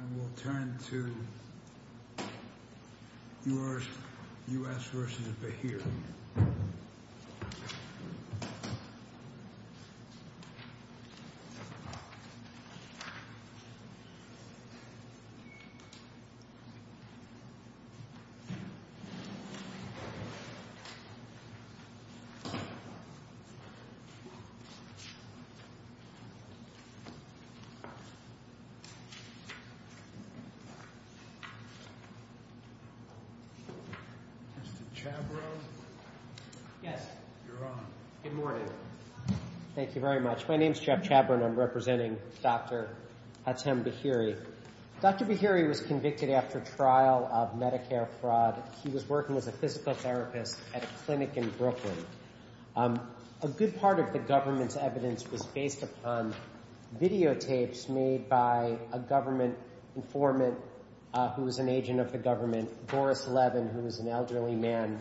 And we'll turn to yours, U.S. v. Bahiry. Mr. Chabron? Yes. You're on. Good morning. Thank you very much. My name is Jeff Chabron. I'm representing Dr. Hatem Bahiry. Dr. Bahiry was convicted after trial of Medicare fraud. He was working as a physical therapist at a clinic in Brooklyn. A good part of the government's trial was based upon videotapes made by a government informant who was an agent of the government, Boris Levin, who was an elderly man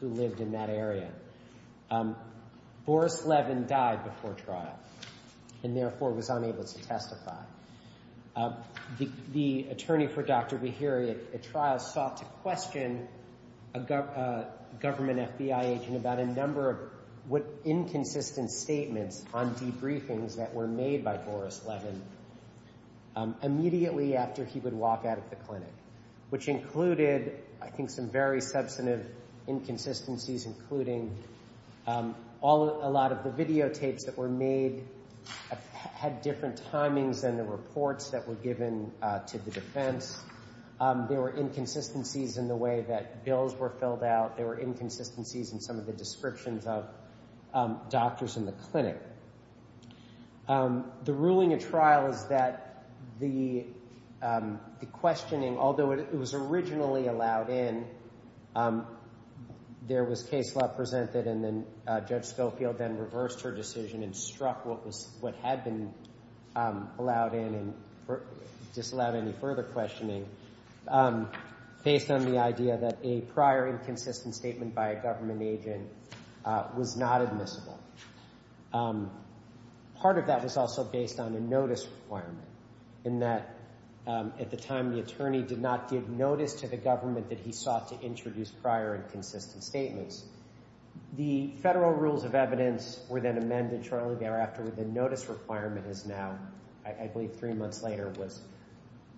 who lived in that area. Boris Levin died before trial and therefore was unable to testify. The attorney for Dr. Bahiry at trial sought to question a government FBI agent about a number of inconsistent statements that were on debriefings that were made by Boris Levin immediately after he would walk out of the clinic, which included, I think, some very substantive inconsistencies, including a lot of the videotapes that were made had different timings than the reports that were given to the defense. There were inconsistencies in the way that bills were filled out. There were inconsistencies in some of the descriptions of doctors in the clinic. The ruling at trial is that the questioning, although it was originally allowed in, there was case law presented and then Judge Schofield then reversed her decision and struck what had been allowed in and disallowed any further questioning based on the idea that a prior inconsistent statement by a government agent was not admissible. Part of that was also based on a notice requirement, in that at the time the attorney did not give notice to the government that he sought to introduce prior inconsistent statements. The Federal Rules of Evidence were then amended shortly after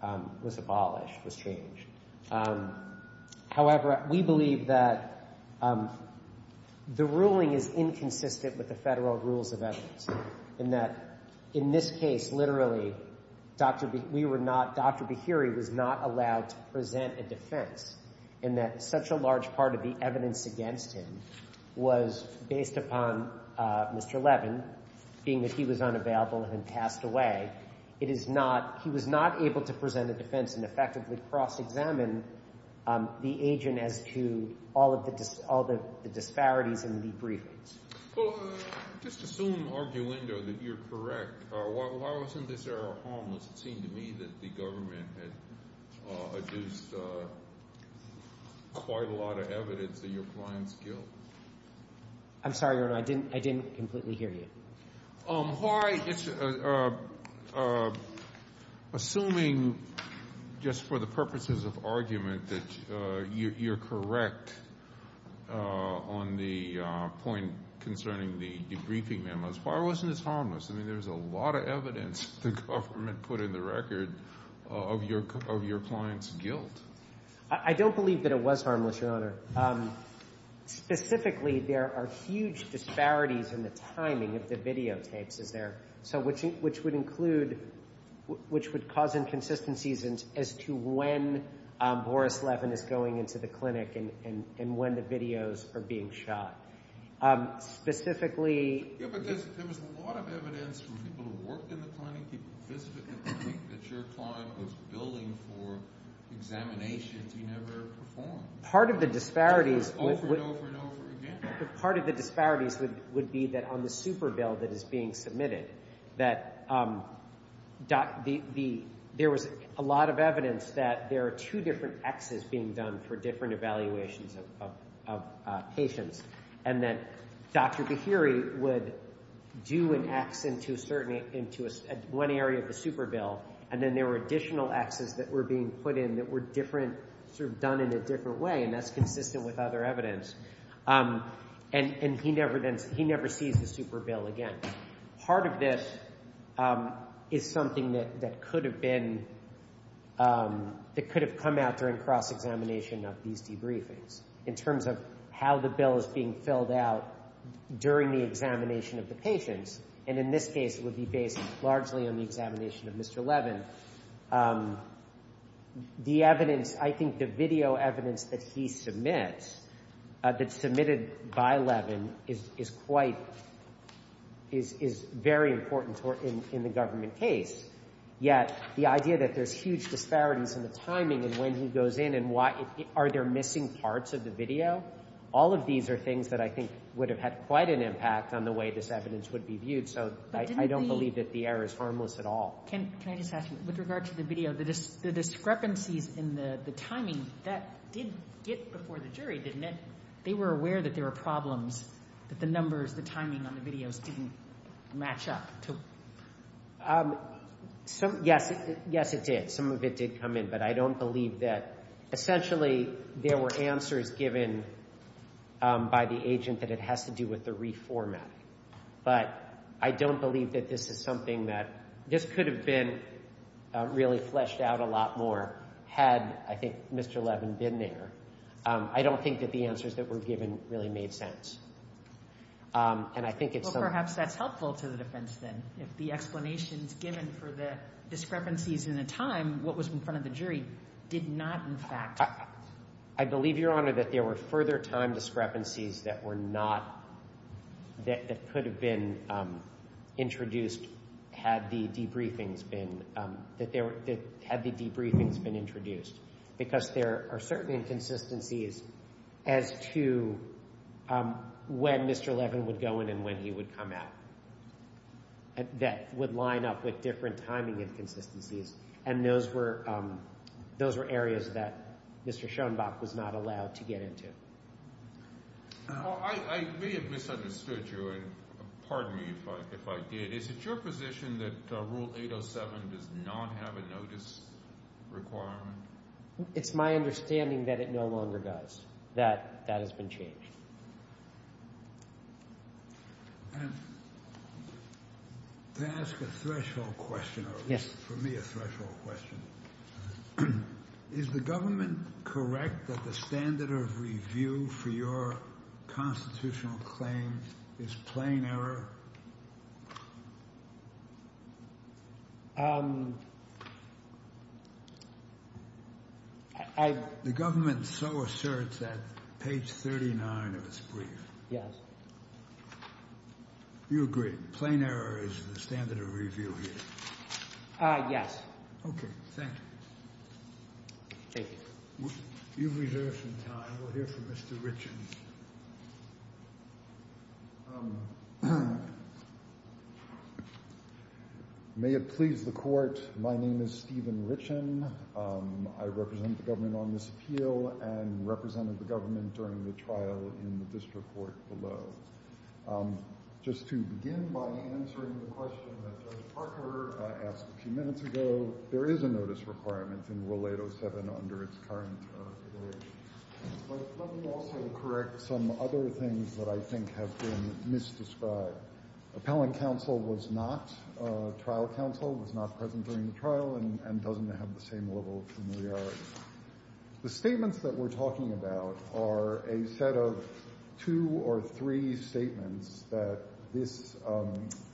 that was abolished, was changed. However, we believe that the ruling is inconsistent with the Federal Rules of Evidence, in that in this case, literally, Dr. Bahiri was not allowed to present a defense, in that such a large part of the evidence against him was based upon Mr. Levin, being that he was unavailable and had passed away. It is not he was not able to present a defense and effectively cross-examine the agent as to all of the disparities in the briefings. Well, just assume, arguendo, that you're correct. While I was in this era of homeless, it seemed to me that the government had adduced quite a lot of evidence of your client's guilt. I'm sorry, Your Honor, I didn't completely hear you. Why, assuming, just for the purposes of argument, that you're correct on the point concerning the debriefing memos, why wasn't this harmless? I mean, there was a lot of evidence the government put in the record of your client's guilt. I don't believe that it was harmless, Your Honor. Specifically, there are huge disparities in the timing of the videotapes, which would cause inconsistencies as to when Boris Levin is going into the clinic and when the videos are being shot. Specifically... Yeah, but there was a lot of evidence from people who worked in the clinic, people who visited the clinic, that your client was billing for examinations he never performed. Part of the disparities would be that on the super bill that is being submitted, that there was a lot of evidence that there are two different Xs being done for different evaluations of patients, and that Dr. Bihiri would do an X into one area of the super bill, and then there were additional Xs that were being put in that were different, sort of done in a different way, and that's consistent with other evidence. And he never sees the super bill again. Part of this is something that could have been, that could have come out during cross-examination of these debriefings, in terms of how the bill is being filled out during the examination of the patients. And in this case, it would be based largely on the examination of Mr. Levin. The evidence, I think the video evidence that he submits, that's submitted by Levin, is quite, is very important in the government case. Yet, the idea that there's huge disparities in the timing and when he goes in and why, are there missing parts of the video? All of these are things that I think would have had quite an impact on the way this evidence would be viewed, so I don't believe that the error is harmless at all. Can I just ask you, with regard to the video, the discrepancies in the timing, that did get before the jury, didn't it? They were aware that there were problems, that the numbers, the timing on the videos didn't match up. Yes, it did. Some of it did come in, but I don't believe that. Essentially, there were answers given by the agent that has to do with the reformatting. But I don't believe that this is something that, this could have been really fleshed out a lot more had, I think, Mr. Levin been there. I don't think that the answers that were given really made sense. And I think it's something Well, perhaps that's helpful to the defense, then, if the explanations given for the discrepancies in the time, what was in front of the jury, did not, in fact I believe, Your Honor, that there were further time discrepancies that were not, that could have been introduced had the debriefings been, had the debriefings been introduced. Because there are certain inconsistencies as to when Mr. Levin would go in and when he would come out, that would line up with different timing inconsistencies. And those were, those were areas that Mr. Schoenbach was not allowed to get into. I may have misunderstood you, and pardon me if I did. Is it your position that Rule 807 does not have a notice requirement? It's my understanding that it no longer does. That, that has been changed. And to ask a threshold question, or at least for me a threshold question, is the government correct that the standard of review for your constitutional claims is plain error? I... The government so asserts at page 39 of its brief. Yes. You agree, plain error is the standard of review here? Yes. Okay, thank you. Thank you. You've reserved some time. We'll hear from Mr. Richen. May it please the Court, my name is Stephen Richen. I represent the government on this appeal and represented the government during the trial in the district court below. Just to begin by answering the question that Judge Parker asked a few minutes ago, there is a notice requirement in Rule 807 under its current provision. But let me also correct some other things that I think have been misdescribed. Appellant counsel was not, trial counsel was not present during the trial and doesn't have the same level of familiarity. The statements that we're talking about are a set of two or three statements that this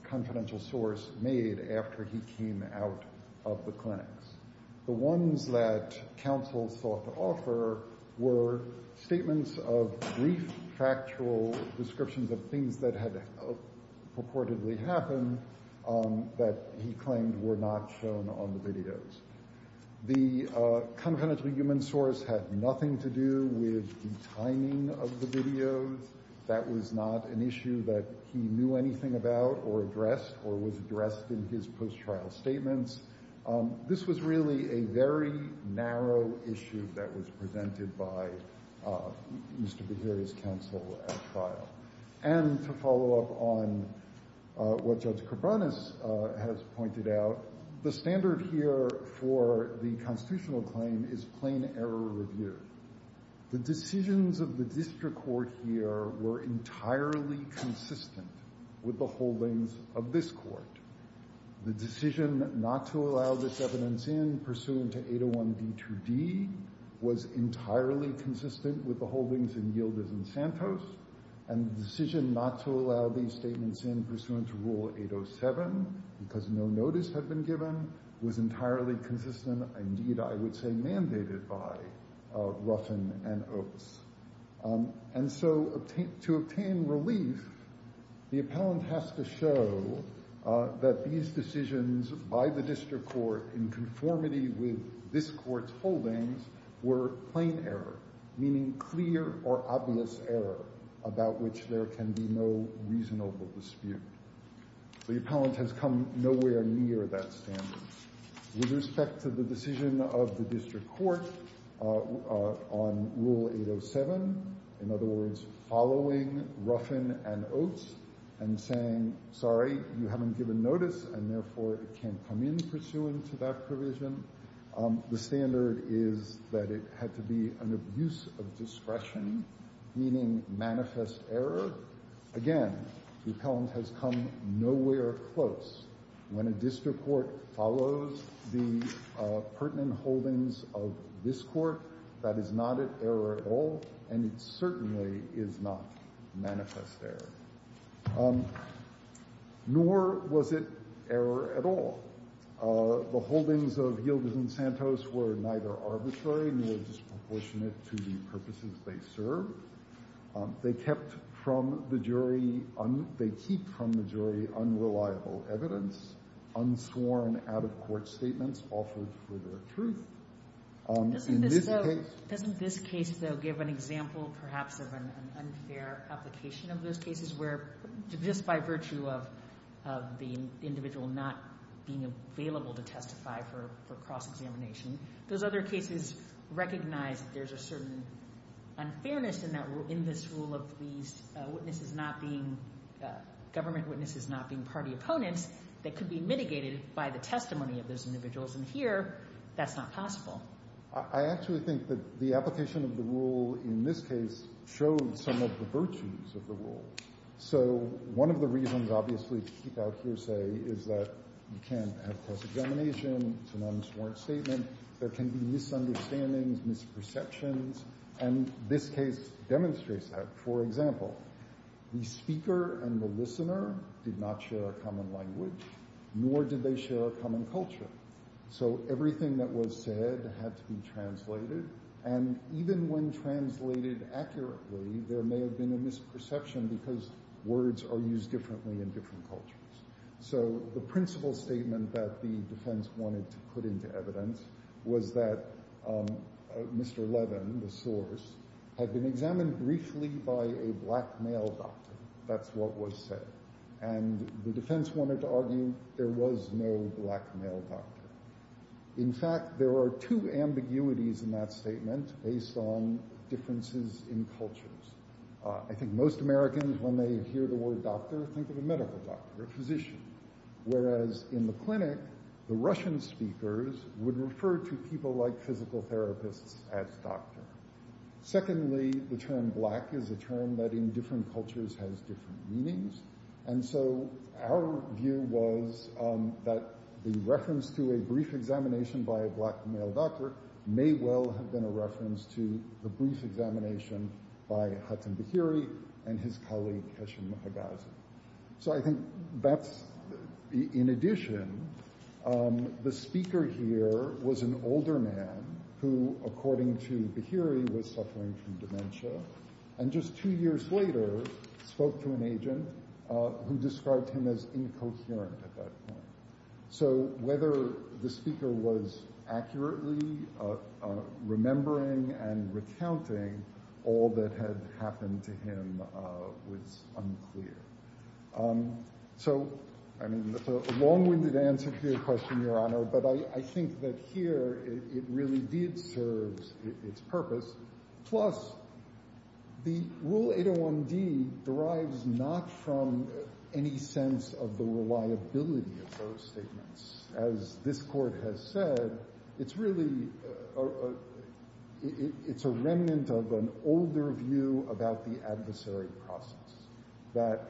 confidential source made after he came out of the clinics. The ones that counsel sought to offer were statements of brief factual descriptions of things that had purportedly happened that he claimed were not shown on the videos. The confidential human source had nothing to do with the timing of the videos. That was not an issue that he knew anything about or addressed or was addressed in his post-trial statements. This was really a very narrow issue that was presented by Mr. Beharia's counsel at trial. And to follow up on what Judge Cabranes has pointed out, the standard here for the constitutional claim is plain error review. The decisions of the district court here were entirely consistent with the holdings of this court. The decision not to allow this evidence in pursuant to 801D2D was entirely consistent with the holdings in Yildiz and Santos. And the decision not to allow these statements in pursuant to Rule 807 because no notice had been given was entirely consistent, indeed, I would say mandated by Ruffin and Oates. And so to obtain relief, the appellant has to show that these decisions by the district court in conformity with this court's holdings were plain error, meaning clear or obvious error about which there can be no reasonable dispute. The appellant has come nowhere near that standard. With respect to the decision of the district court on Rule 807, in other words, following Ruffin and Oates and saying, sorry, you haven't given notice and, therefore, it can't come in pursuant to that provision, the standard is that it had to be an abuse of discretion, meaning manifest error. Again, the appellant has come nowhere close. When a district court follows the pertinent holdings of this court, that is not an error at all, and it is manifest error. Nor was it error at all. The holdings of Gilders and Santos were neither arbitrary nor disproportionate to the purposes they served. They kept from the jury unreliable evidence, unsworn out-of-court statements offered for their truth. Doesn't this case, though, give an example, perhaps, of an unfair application of those cases where, just by virtue of the individual not being available to testify for cross-examination, those other cases recognize that there's a certain unfairness in this rule of these witnesses not being government witnesses, not being party opponents, that could be mitigated by the testimony of those individuals. And here, that's not possible. I actually think that the application of the rule in this case showed some of the virtues of the rule. So one of the reasons, obviously, to keep out hearsay is that you can't have cross-examination. It's an unsworn statement. There can be misunderstandings, misperceptions, and this case demonstrates that. For example, the speaker and the witness, they share a common culture. So everything that was said had to be translated, and even when translated accurately, there may have been a misperception because words are used differently in different cultures. So the principal statement that the defense wanted to put into evidence was that Mr. Levin, the source, had been examined briefly by a black male doctor. That's what was said. And the defense wanted to argue there was no black male doctor. In fact, there are two ambiguities in that statement based on differences in cultures. I think most Americans, when they hear the word doctor, think of a medical doctor, a physician, whereas in the clinic, the Russian speakers would refer to people like physical therapists as doctor. Secondly, the term black is a term that in different cultures has different meanings, and so our view was that the reference to a brief examination by a black male doctor may well have been a reference to the brief examination by Hattem Bahiri and his colleague, Kesham Hegazi. So I think that's, in addition, the speaker here was an older man who, according to Bahiri, was suffering from dementia, and just two years later spoke to an agent who described him as incoherent at that point. So whether the speaker was accurately remembering and recounting all that had happened to him was unclear. So, I mean, it's a long-winded answer to your question, Your Honor, but I think that here it really did serve its purpose. Plus, the Rule 801D does not say that the statement derives not from any sense of the reliability of those statements. As this Court has said, it's really a remnant of an older view about the adversary process, that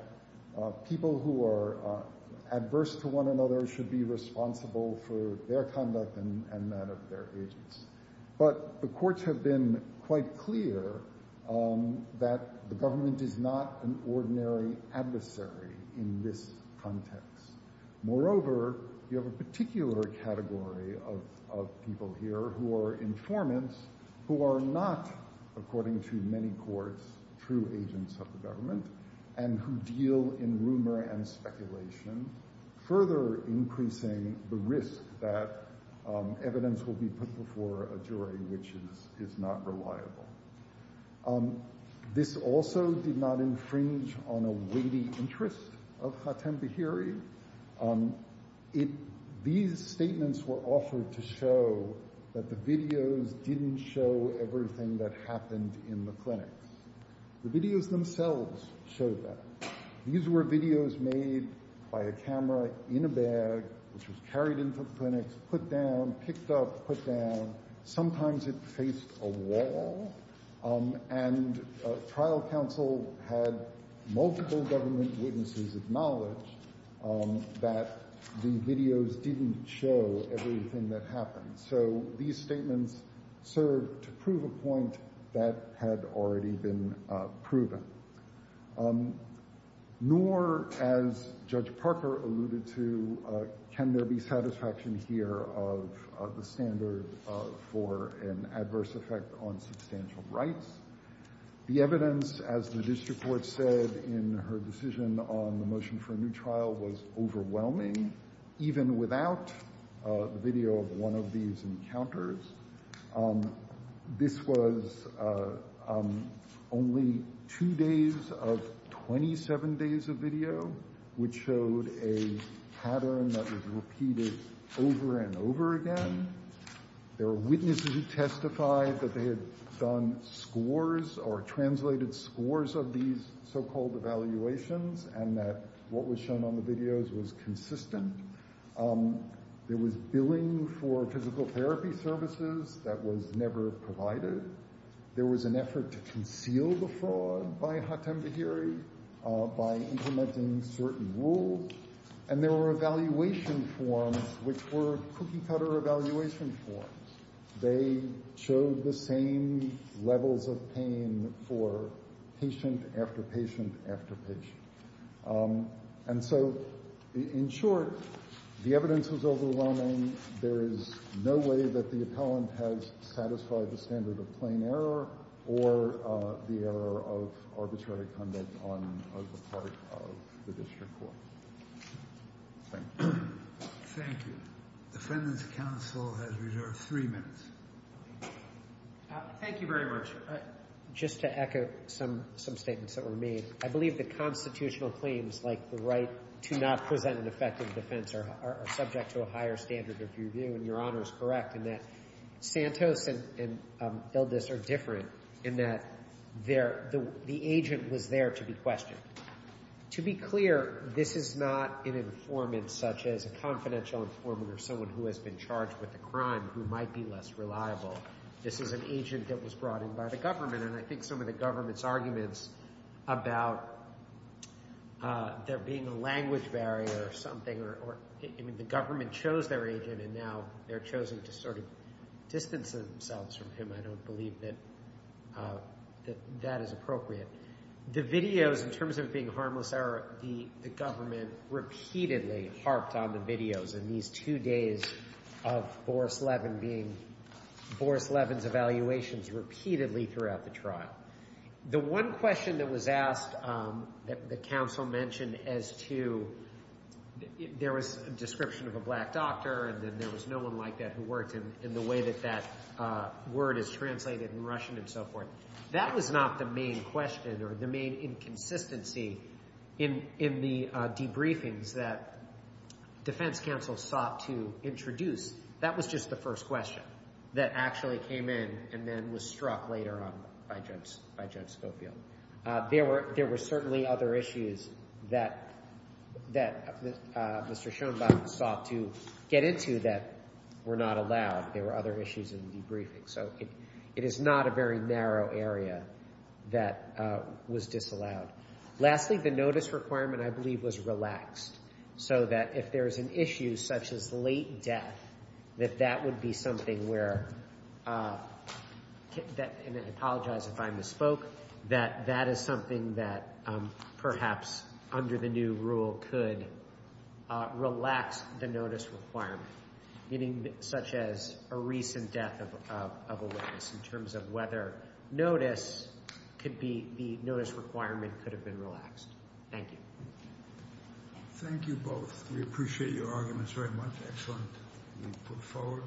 people who are adverse to one another should be responsible for their conduct and that of their agents. But the courts have been quite clear that the government is not an ordinary adversary in this context. Moreover, you have a particular category of people here who are informants, who are not, according to many courts, true agents of the government, and who deal in rumor and speculation, further increasing the risk that evidence will be put before a jury which is not reliable. This also did not infringe on a weighty interest of Hatem Behiri. These statements were offered to show that the videos didn't show everything that happened in the clinics. The videos themselves showed that. These were videos made by a camera in a bag, which was carried into the clinics, put down, picked up, put down. Sometimes it faced a wall. And trial counsel had multiple government witnesses acknowledge that the videos didn't show everything that happened. So these statements served to prove a point that had already been proven. Nor, as Judge Sotomayor said, was a standard for an adverse effect on substantial rights. The evidence, as the district court said in her decision on the motion for a new trial, was overwhelming, even without the video of one of these encounters. This was only two days of 27 days of video, which showed a pattern that was repeated over and over again. There were witnesses who testified that they had done scores or translated scores of these so-called evaluations and that what was shown on the videos was consistent. There was billing for physical therapy services that was never provided. There was an effort to conceal the fraud by Hatem Behiri by implementing certain rules. And there were evaluation forms, which were cookie-cutter evaluation forms. They showed the same levels of pain for patient after patient after patient. And so, in short, the evidence was overwhelming. There is no way that the appellant has satisfied the standard of plain error or the error of arbitrary conduct on the part of the district court. Thank you. Thank you. Defendant's counsel has reserved three minutes. Thank you very much. Just to echo some statements that were made, I believe that constitutional claims like the right to not present an effective defense are subject to a higher standard of review, and Your Honor is correct in that Santos and Eldis are different in that the agent was there to be questioned. To be clear, this is not an informant such as a confidential informant or someone who has been charged with a crime who might be less reliable. This is an agent that was brought in by the government, and I think some of the government's arguments about there being a language barrier or something or the government chose their agent and now they're chosen to sort of distance themselves from him, I don't believe that that is appropriate. The videos, in terms of it being harmless error, the government repeatedly harped on the videos in these two days of Boris Levin being, Boris Levin's evaluations repeatedly throughout the trial. The one question that was asked that the counsel mentioned as to, there was a description of a black doctor and there was no one like that who worked in the way that that word is translated in Russian and so forth, that was not the main question or the main inconsistency in the debriefings that defense counsel sought to introduce. That was just the first question that actually came in and then was struck later on by Judge Scofield. There were certainly other issues that Mr. Schoenbach sought to get into that were not allowed. There were other issues in the debriefing. So it is not a very narrow area that was disallowed. Lastly, the notice requirement, I believe, was relaxed so that if there is an issue such as late death, that that would be something where, and I apologize if I misspoke, that that is something that perhaps under the new rule could relax the notice requirement. Meaning such as a recent death of a witness in terms of whether notice could be, the notice requirement could have been relaxed. Thank you. Thank you both. We appreciate your arguments very much. Excellent. We put forward.